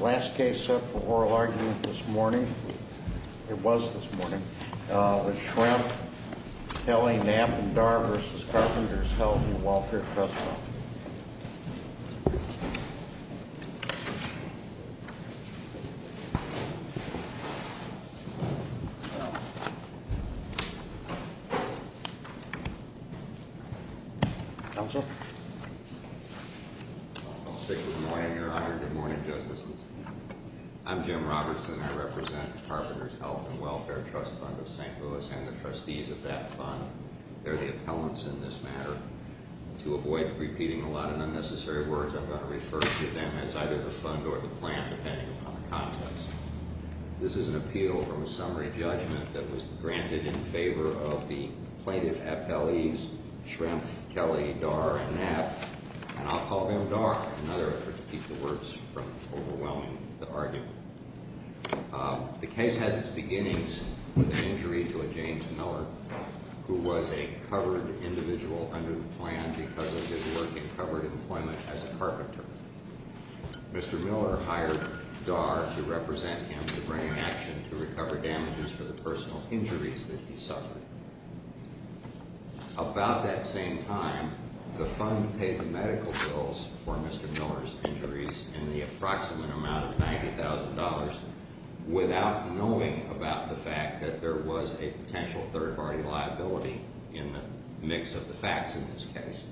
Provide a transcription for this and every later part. Last case set for oral argument this morning, it was this morning, was Shrempf, Kelly, Napp & Darr v. Carpenters' Health & Welfare Trust Fund. I'm Jim Robertson. I represent Carpenters' Health & Welfare Trust Fund of St. Louis and the trustees of that fund, they're the appellants in this matter. To avoid repeating a lot of unnecessary words, I'm going to refer to them as either the fund or the plan, depending upon the context. This is an appeal from a summary judgment that was granted in favor of the plaintiff appellees, Shrempf, Kelly, Darr & Napp, and I'll call them Darr, in order to keep the words from overwhelming the argument. The case has its beginnings with an injury to a James Miller who was a covered individual under the plan because of his work in covered employment as a carpenter. Mr. Miller hired Darr to represent him to bring an action to recover damages for the personal injuries that he suffered. About that same time, the fund paid the medical bills for Mr. Miller's injuries in the approximate amount of $90,000 without knowing about the fact that there was a potential third-party liability in the mix of the facts in this case.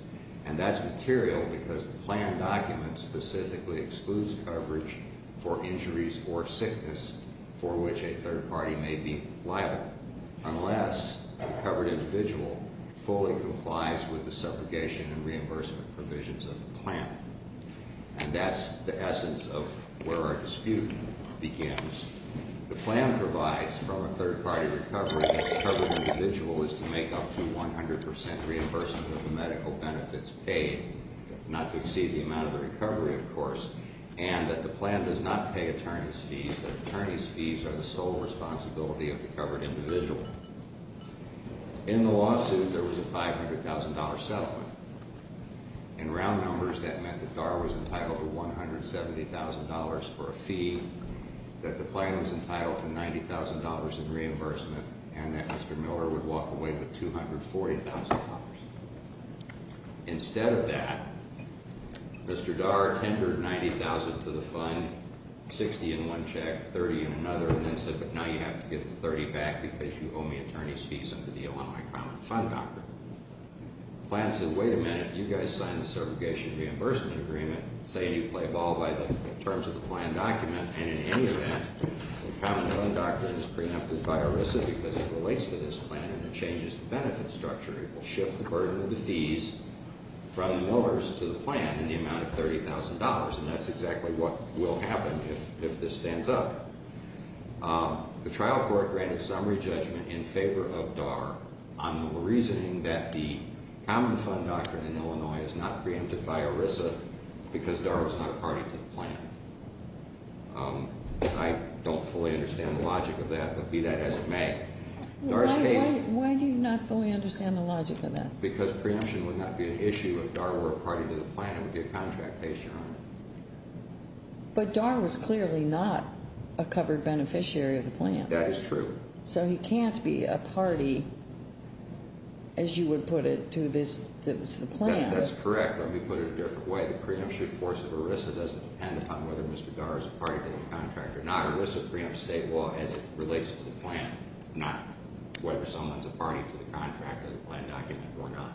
And that's material because the plan document specifically excludes coverage for injuries or sickness for which a third party may be liable, unless the covered individual fully complies with the separation and reimbursement provisions of the plan. And that's the essence of where our dispute begins. The plan provides from a third-party recovery that the covered individual is to make up to 100% reimbursement of the medical benefits paid, not to exceed the amount of the recovery, of course, and that the plan does not pay attorney's fees, that attorney's fees are the sole responsibility of the covered individual. In the lawsuit, there was a $500,000 settlement. In round numbers, that meant that Darr was entitled to $170,000 for a fee, that the plan was entitled to $90,000 in reimbursement, and that Mr. Miller would walk away with $240,000. Instead of that, Mr. Darr tendered $90,000 to the fund, $60,000 in one check, $30,000 in another, and then said, but now you have to give the $30,000 back because you owe me attorney's fees under the Illinois Common Fund Doctrine. The plan said, wait a minute, you guys signed the segregation reimbursement agreement, saying you play ball by the terms of the plan document, and in any event, the Common Fund Doctrine is preempted by ERISA because it relates to this plan and it changes the benefit structure. It will shift the burden of the fees from the Millers to the plan in the amount of $30,000, and that's exactly what will happen if this stands up. The trial court granted summary judgment in favor of Darr on the reasoning that the Common Fund Doctrine in Illinois is not preempted by ERISA because Darr was not a party to the plan. I don't fully understand the logic of that, but be that as it may, Darr's case… Why do you not fully understand the logic of that? Because preemption would not be an issue if Darr were a party to the plan. It would be a contract case, Your Honor. But Darr was clearly not a covered beneficiary of the plan. That is true. So he can't be a party, as you would put it, to the plan. That's correct. Let me put it a different way. The preemption force of ERISA doesn't depend upon whether Mr. Darr is a party to the contract or not. ERISA preempts state law as it relates to the plan, not whether someone's a party to the contract or the plan document or not.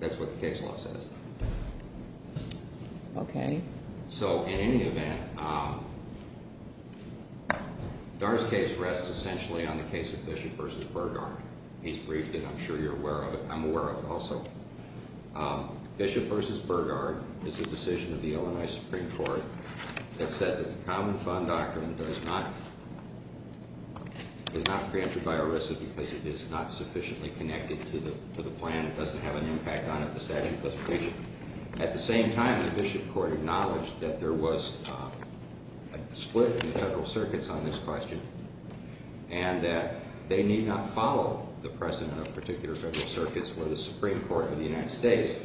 That's what the case law says. Okay. So, in any event, Darr's case rests essentially on the case of Bishop v. Burgard. He's briefed it. I'm sure you're aware of it. I'm aware of it also. Bishop v. Burgard is a decision of the Illinois Supreme Court that said that the Common Fund Doctrine does not… because it is not sufficiently connected to the plan. It doesn't have an impact on it, the statute of limitations. At the same time, the Bishop Court acknowledged that there was a split in the federal circuits on this question and that they need not follow the precedent of particular federal circuits where the Supreme Court of the United States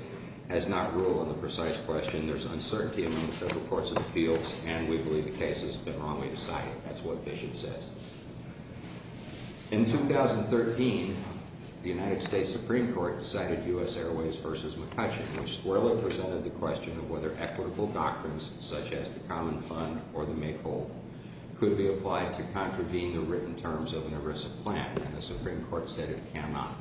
has not ruled on the precise question. There's uncertainty among the federal courts of appeals, and we believe the case has been wrongly decided. That's what Bishop says. In 2013, the United States Supreme Court decided U.S. Airways v. McCutcheon, which squarely presented the question of whether equitable doctrines, such as the Common Fund or the Maypole, could be applied to contravene the written terms of an ERISA plan, and the Supreme Court said it cannot.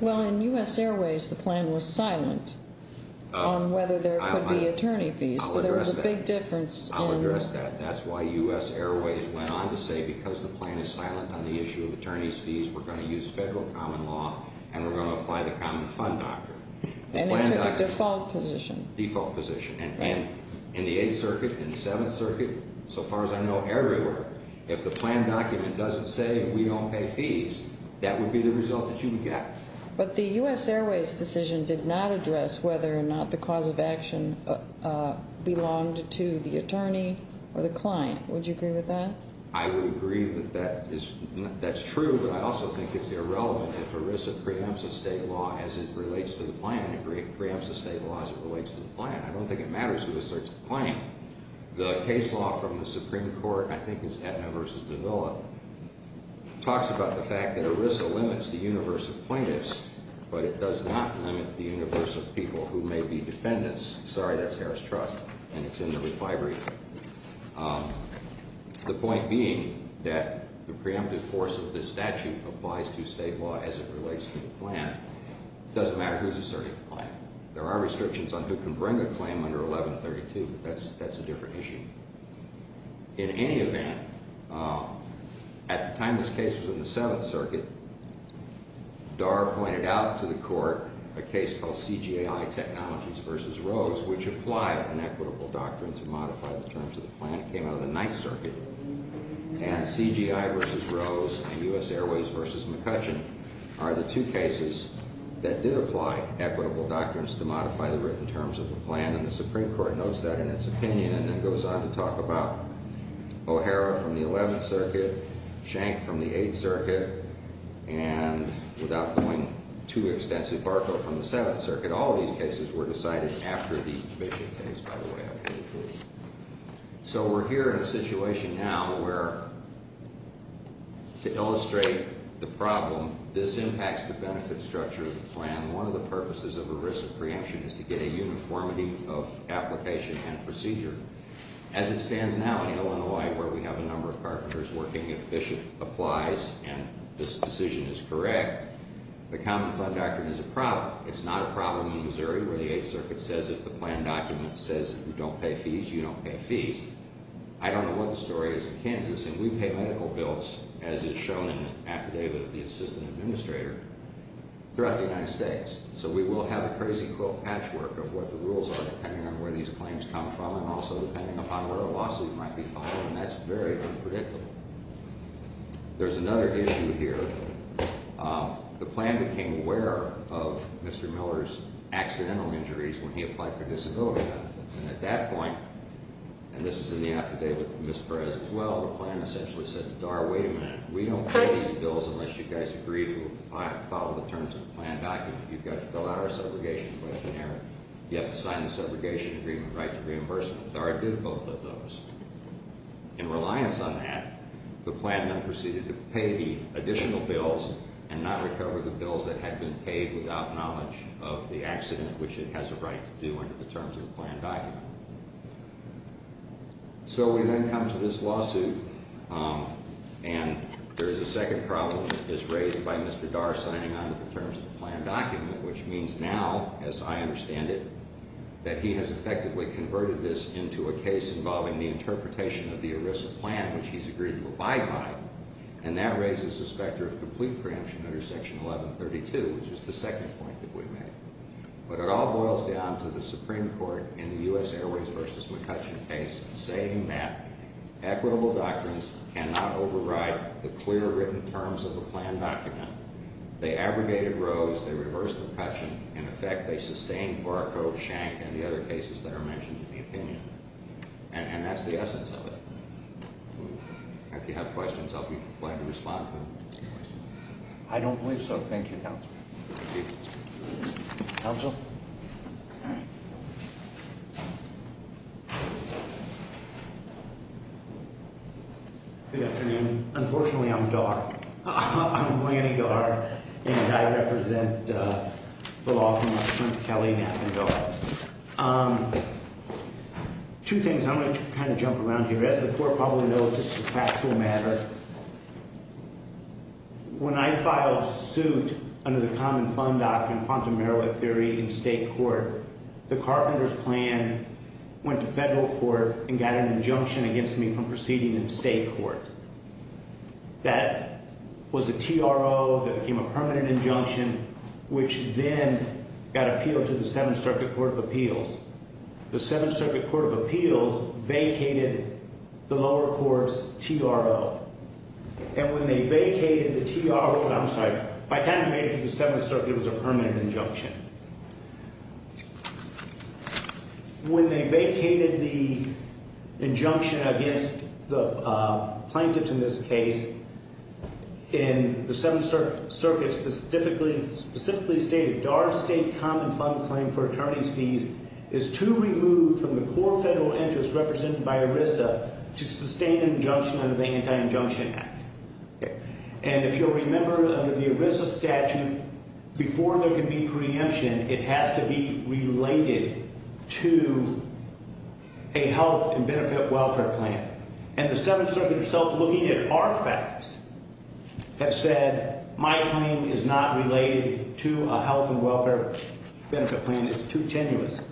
Well, in U.S. Airways, the plan was silent on whether there could be attorney fees. I'll address that. So there was a big difference in… I'll address that. That's why U.S. Airways went on to say because the plan is silent on the issue of attorney's fees, we're going to use federal common law and we're going to apply the Common Fund doctrine. And it took a default position. Default position. And in the Eighth Circuit, in the Seventh Circuit, so far as I know, everywhere, if the plan document doesn't say we don't pay fees, that would be the result that you would get. But the U.S. Airways decision did not address whether or not the cause of action belonged to the attorney or the client. Would you agree with that? I would agree that that's true, but I also think it's irrelevant if ERISA preempts a state law as it relates to the plan. It preempts a state law as it relates to the plan. I don't think it matters who asserts the claim. The case law from the Supreme Court, I think it's Aetna v. Davila, talks about the fact that ERISA limits the universe of plaintiffs, but it does not limit the universe of people who may be defendants. Sorry, that's Harris Trust, and it's in the reply brief. The point being that the preemptive force of this statute applies to state law as it relates to the plan. It doesn't matter who's asserting the plan. There are restrictions on who can bring a claim under 1132, but that's a different issue. In any event, at the time this case was in the Seventh Circuit, Darr pointed out to the court a case called CGI Technologies v. Rose, which applied an equitable doctrine to modify the terms of the plan. It came out of the Ninth Circuit, and CGI v. Rose and U.S. Airways v. McCutcheon are the two cases that did apply equitable doctrines to modify the written terms of the plan, and the Supreme Court notes that in its opinion and then goes on to talk about O'Hara from the Eleventh Circuit, Schenck from the Eighth Circuit, and without going too extensively, Barco from the Seventh Circuit. All of these cases were decided after the vision case, by the way. So we're here in a situation now where, to illustrate the problem, this impacts the benefit structure of the plan. One of the purposes of a risk of preemption is to get a uniformity of application and procedure. As it stands now in Illinois, where we have a number of carpenters working, if Bishop applies and this decision is correct, the common fund doctrine is a problem. It's a problem in Missouri where the Eighth Circuit says if the plan document says you don't pay fees, you don't pay fees. I don't know what the story is in Kansas, and we pay medical bills, as is shown in an affidavit of the assistant administrator, throughout the United States. So we will have a crazy quill patchwork of what the rules are depending on where these claims come from and also depending upon where a lawsuit might be filed, and that's very unpredictable. There's another issue here. The plan became aware of Mr. Miller's accidental injuries when he applied for disability benefits, and at that point, and this is in the affidavit with Ms. Perez as well, the plan essentially said, Dara, wait a minute. We don't pay these bills unless you guys agree to follow the terms of the plan document. You've got to fill out our segregation questionnaire. You have to sign the segregation agreement right to reimbursement. Dara did both of those. In reliance on that, the plan then proceeded to pay the additional bills and not recover the bills that had been paid without knowledge of the accident, which it has a right to do under the terms of the plan document. So we then come to this lawsuit, and there is a second problem that is raised by Mr. Dara signing onto the terms of the plan document, which means now, as I understand it, that he has effectively converted this into a case involving the interpretation of the ERISA plan, which he's agreed to abide by, and that raises the specter of complete preemption under Section 1132, which is the second point that we made. But it all boils down to the Supreme Court in the U.S. Airways v. McCutcheon case saying that equitable doctrines cannot override the clear written terms of the plan document. They abrogated Rose. They reversed McCutcheon. In effect, they sustained Fargo, Shank, and the other cases that are mentioned in the opinion. And that's the essence of it. If you have questions, I'll be glad to respond to them. I don't believe so. Thank you, Counsel. Counsel? Good afternoon. Unfortunately, I'm Dara. I'm Lanny Dara, and I represent the law firm of Trent Kelly, NAPA, and DARA. Two things. I'm going to kind of jump around here. As the Court probably knows, this is a factual matter. When I filed suit under the Common Fund Act and quantum airway theory in state court, the Carpenters plan went to federal court and got an injunction against me from proceeding in state court. That was a TRO that became a permanent injunction, which then got appealed to the Seventh Circuit Court of Appeals. The Seventh Circuit Court of Appeals vacated the lower court's TRO. And when they vacated the TRO, I'm sorry, by the time it made it to the Seventh Circuit, it was a permanent injunction. When they vacated the injunction against the plaintiffs in this case, in the Seventh Circuit specifically stated, DARA's state common fund claim for attorney's fees is to remove from the core federal interest represented by ERISA to sustain an injunction under the Anti-Injunction Act. And if you'll remember, under the ERISA statute, before there can be preemption, it has to be related to a health and benefit welfare plan. And the Seventh Circuit itself, looking at our facts, has said my claim is not related to a health and welfare benefit plan. It's too tenuous.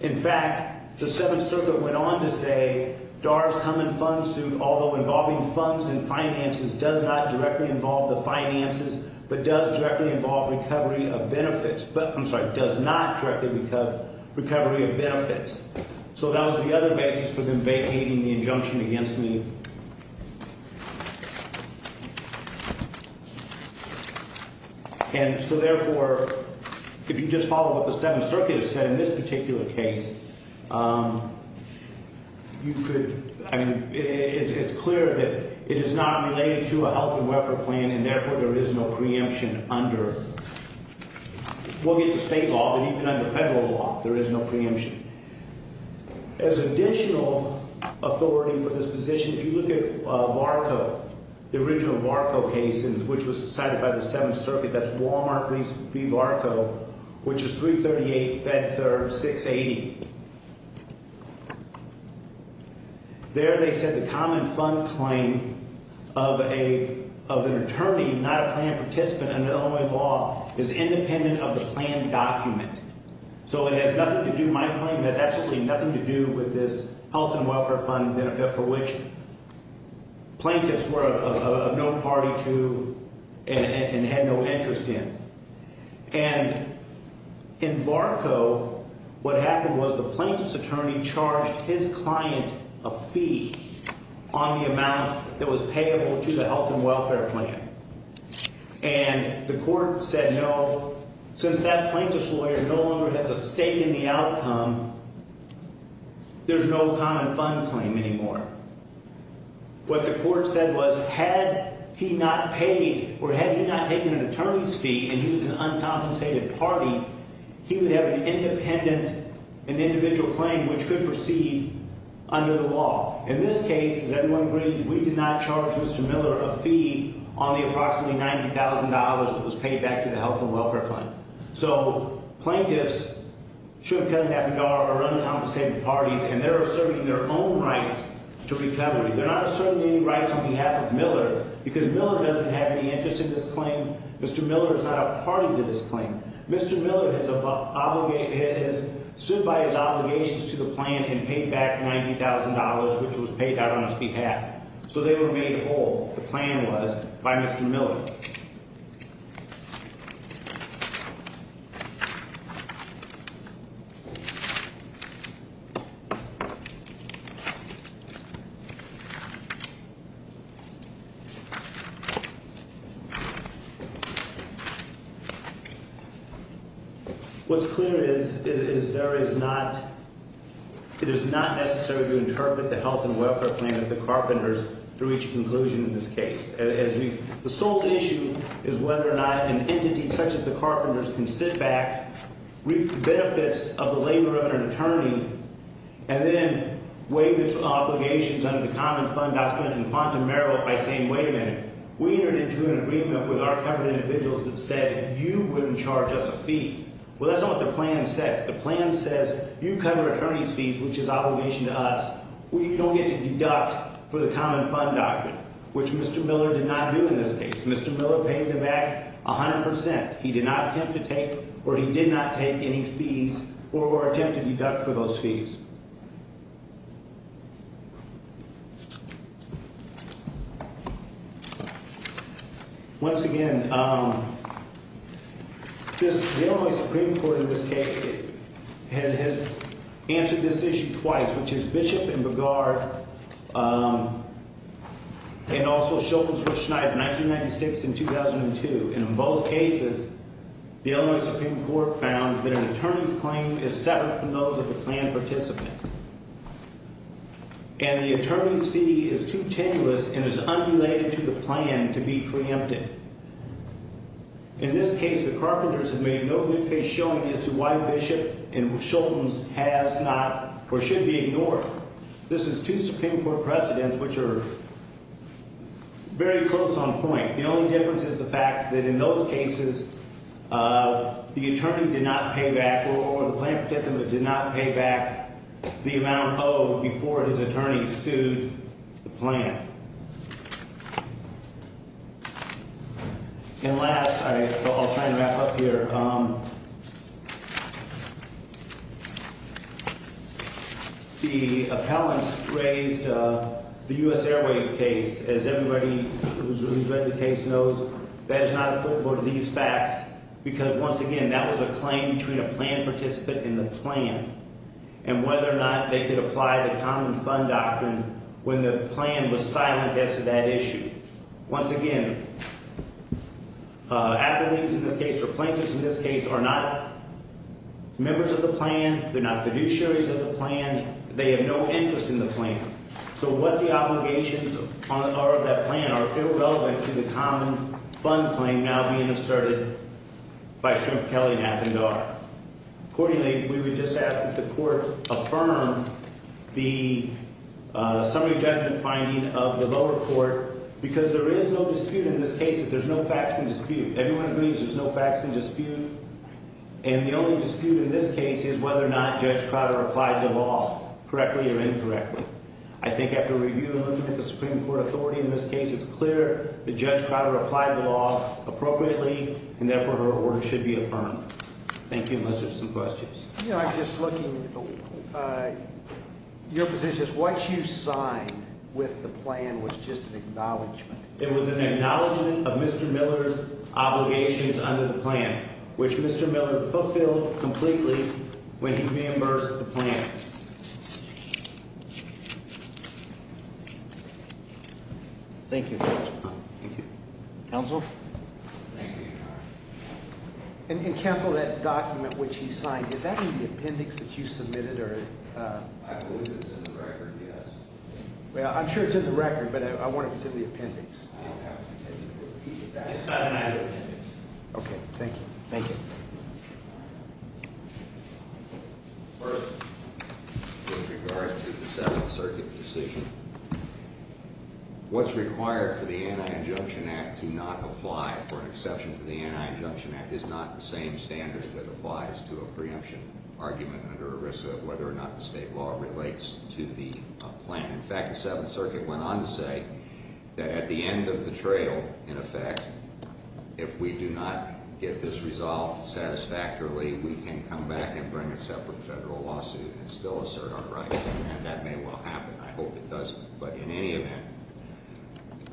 In fact, the Seventh Circuit went on to say DARA's common fund suit, although involving funds and finances, does not directly involve the finances, but does directly involve recovery of benefits. But, I'm sorry, does not directly involve recovery of benefits. So that was the other basis for them vacating the injunction against me. And so therefore, if you just follow what the Seventh Circuit has said in this particular case, you could, I mean, it's clear that it is not related to a health and welfare plan, and therefore there is no preemption under, we'll get to state law, but even under federal law, there is no preemption. As additional authority for this position, if you look at VARCO, the original VARCO case, which was cited by the Seventh Circuit, that's Wal-Mart v. VARCO, which is 338-FED-3, 680. There they said the common fund claim of an attorney, not a plan participant under Illinois law, is independent of the plan document. So it has nothing to do, my claim has absolutely nothing to do with this health and welfare fund benefit for which plaintiffs were of no party to and had no interest in. And in VARCO, what happened was the plaintiff's attorney charged his client a fee on the amount that was payable to the health and welfare plan. And the court said no, since that plaintiff's lawyer no longer has a stake in the outcome, there's no common fund claim anymore. What the court said was had he not paid or had he not taken an attorney's fee and he was an uncompensated party, he would have an independent, an individual claim which could proceed under the law. In this case, as everyone agrees, we did not charge Mr. Miller a fee on the approximately $90,000 that was paid back to the health and welfare fund. So plaintiffs should have come to that regard are uncompensated parties and they're asserting their own rights to recovery. They're not asserting any rights on behalf of Miller because Miller doesn't have any interest in this claim. Mr. Miller is not a party to this claim. Mr. Miller has stood by his obligations to the plan and paid back $90,000 which was paid out on his behalf. So they were made whole, the plan was, by Mr. Miller. What's clear is there is not, it is not necessary to interpret the health and welfare plan of the Carpenters to reach a conclusion in this case. The sole issue is whether or not an entity such as the Carpenters can sit back, reap the benefits of the labor of an attorney, and then waive its obligations under the common fund doctrine in quantum merit by saying, wait a minute, we entered into an agreement with our covered individuals that said you wouldn't charge us a fee. Well, that's not what the plan says. The plan says you cover attorney's fees, which is obligation to us. We don't get to deduct for the common fund doctrine, which Mr. Miller did not do in this case. Mr. Miller paid them back 100%. He did not attempt to take or he did not take any fees or attempt to deduct for those fees. Once again, this, the Illinois Supreme Court in this case has answered this issue twice, which is Bishop and Begaard and also Schopenhauer-Schneider, 1996 and 2002. And in both cases, the Illinois Supreme Court found that an attorney's claim is separate from those of a plan participant. And the attorney's fee is too tenuous and is unrelated to the plan to be preempted. In this case, the Carpenters have made no good face showing as to why Bishop and Schopenhauer has not or should be ignored. This is two Supreme Court precedents which are very close on point. The only difference is the fact that in those cases, the attorney did not pay back or the plan participant did not pay back the amount owed before his attorney sued the plan. And last, I'll try and wrap up here. The appellants raised the U.S. Airways case. As everybody who's read the case knows, that is not a quote for these facts because, once again, that was a claim between a plan participant and the plan. And whether or not they could apply the common fund doctrine when the plan was silent as to that issue. Once again, appellees in this case, or plaintiffs in this case, are not members of the plan. They're not fiduciaries of the plan. They have no interest in the plan. So what the obligations are of that plan are still relevant to the common fund claim now being asserted by Shrimp, Kelly, Knapp, and Dar. Accordingly, we would just ask that the court affirm the summary judgment finding of the lower court because there is no dispute in this case. There's no facts in dispute. Everyone agrees there's no facts in dispute. And the only dispute in this case is whether or not Judge Crowder applied the law correctly or incorrectly. I think after reviewing the Supreme Court authority in this case, it's clear that Judge Crowder applied the law appropriately, and therefore, her order should be affirmed. Thank you. Unless there's some questions. I'm just looking. Your position is what you signed with the plan was just an acknowledgment. It was an acknowledgment of Mr. Miller's obligations under the plan, which Mr. Miller fulfilled completely when he reimbursed the plan. Thank you. Counsel. And cancel that document, which he signed. Is that in the appendix that you submitted or? I believe it's in the record. Yes. Well, I'm sure it's in the record, but I wonder if it's in the appendix. Okay. Thank you. Thank you. First, with regard to the Seventh Circuit decision, what's required for the Anti-Injunction Act to not apply for an exception to the Anti-Injunction Act is not the same standard that applies to a preemption argument under ERISA, whether or not the state law relates to the plan. In fact, the Seventh Circuit went on to say that at the end of the trail, in effect, if we do not get this resolved satisfactorily, we can come back and bring a separate federal lawsuit and still assert our rights. And that may well happen. I hope it doesn't. But in any event,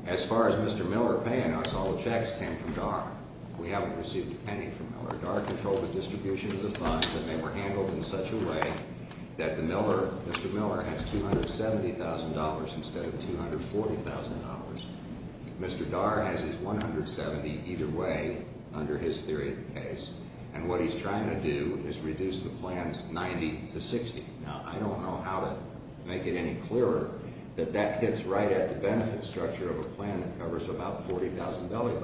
as far as Mr. Miller paying us, all the checks came from DAR. We haven't received a penny from Miller. DAR controlled the distribution of the funds, and they were handled in such a way that Mr. Miller has $270,000 instead of $240,000. Mr. DAR has his $170,000 either way under his theory of the case. And what he's trying to do is reduce the plans 90 to 60. Now, I don't know how to make it any clearer that that hits right at the benefit structure of a plan that covers about $40,000.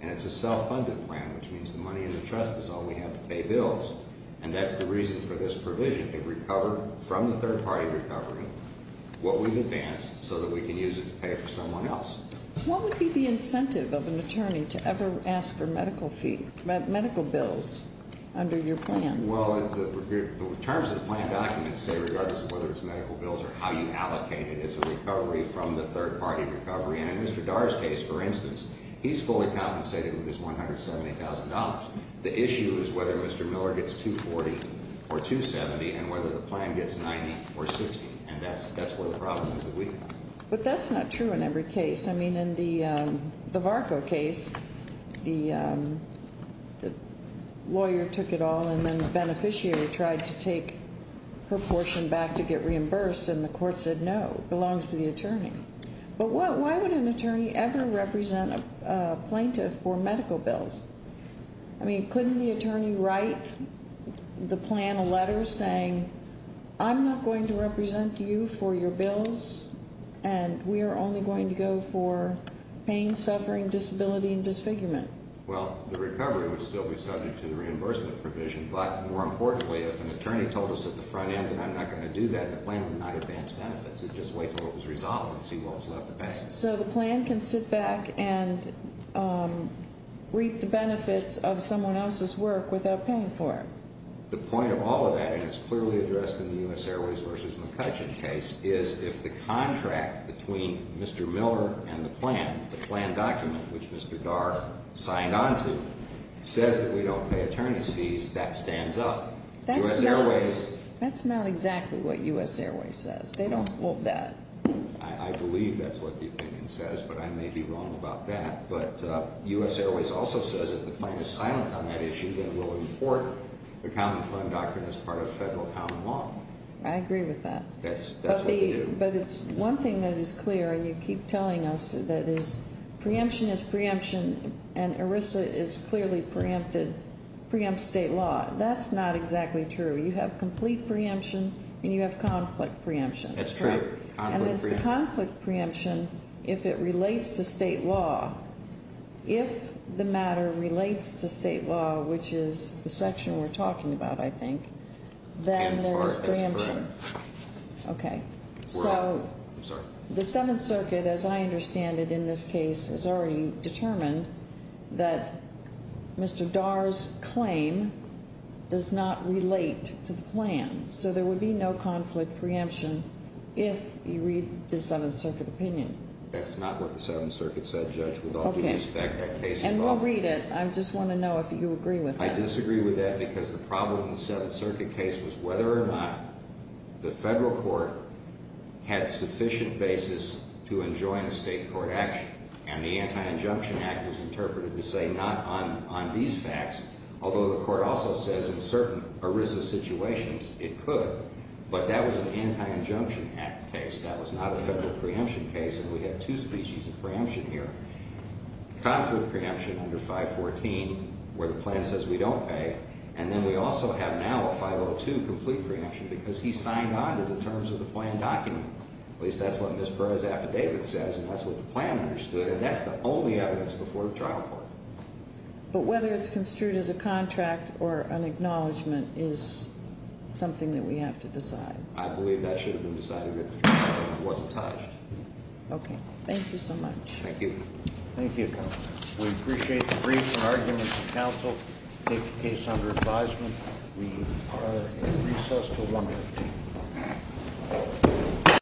And it's a self-funded plan, which means the money in the trust is all we have to pay bills. And that's the reason for this provision to recover from the third-party recovery what we've advanced so that we can use it to pay for someone else. What would be the incentive of an attorney to ever ask for medical fee, medical bills under your plan? Well, the terms of the plan document say regardless of whether it's medical bills or how you allocate it, it's a recovery from the third-party recovery. And in Mr. DAR's case, for instance, he's fully compensated with his $170,000. The issue is whether Mr. Miller gets $240,000 or $270,000 and whether the plan gets $90,000 or $60,000. And that's where the problem is that we have. But that's not true in every case. I mean, in the Varco case, the lawyer took it all and then the beneficiary tried to take her portion back to get reimbursed. And the court said no, it belongs to the attorney. But why would an attorney ever represent a plaintiff for medical bills? I mean, couldn't the attorney write the plan a letter saying, I'm not going to represent you for your bills, and we are only going to go for pain, suffering, disability, and disfigurement? Well, the recovery would still be subject to the reimbursement provision. But more importantly, if an attorney told us at the front end that I'm not going to do that, the plan would not advance benefits. It would just wait until it was resolved and see what was left of that. So the plan can sit back and reap the benefits of someone else's work without paying for it? The point of all of that, and it's clearly addressed in the U.S. Airways v. McCutcheon case, is if the contract between Mr. Miller and the plan, the plan document which Mr. Dar signed onto, says that we don't pay attorney's fees, that stands up. U.S. Airways- That's not exactly what U.S. Airways says. They don't hold that. I believe that's what the opinion says, but I may be wrong about that. But U.S. Airways also says if the plan is silent on that issue, then we'll import the common fund doctrine as part of federal common law. I agree with that. That's what they do. But it's one thing that is clear, and you keep telling us that is preemption is preemption, and ERISA is clearly preempted, preempts state law. That's not exactly true. You have complete preemption, and you have conflict preemption. That's true. And it's the conflict preemption if it relates to state law. If the matter relates to state law, which is the section we're talking about, I think, then there is preemption. Okay. So the Seventh Circuit, as I understand it in this case, has already determined that Mr. Dar's claim does not relate to the plan. So there would be no conflict preemption if you read the Seventh Circuit opinion. That's not what the Seventh Circuit said, Judge, with all due respect. And we'll read it. I just want to know if you agree with that. I disagree with that because the problem in the Seventh Circuit case was whether or not the federal court had sufficient basis to enjoin a state court action, and the Anti-Injunction Act was interpreted to say not on these facts, although the court also says in certain ERISA situations it could, but that was an Anti-Injunction Act case. That was not a federal preemption case, and we have two species of preemption here, conflict preemption under 514 where the plan says we don't pay, and then we also have now a 502 complete preemption because he signed on to the terms of the plan document. At least that's what Ms. Perez-Affidavit says, and that's what the plan understood, and that's the only evidence before the trial court. But whether it's construed as a contract or an acknowledgment is something that we have to decide. I believe that should have been decided at the trial court. It wasn't touched. Okay. Thank you so much. Thank you. Thank you, Counsel. We appreciate the brief and arguments of counsel to take the case under advisement. We are at recess until 1 o'clock.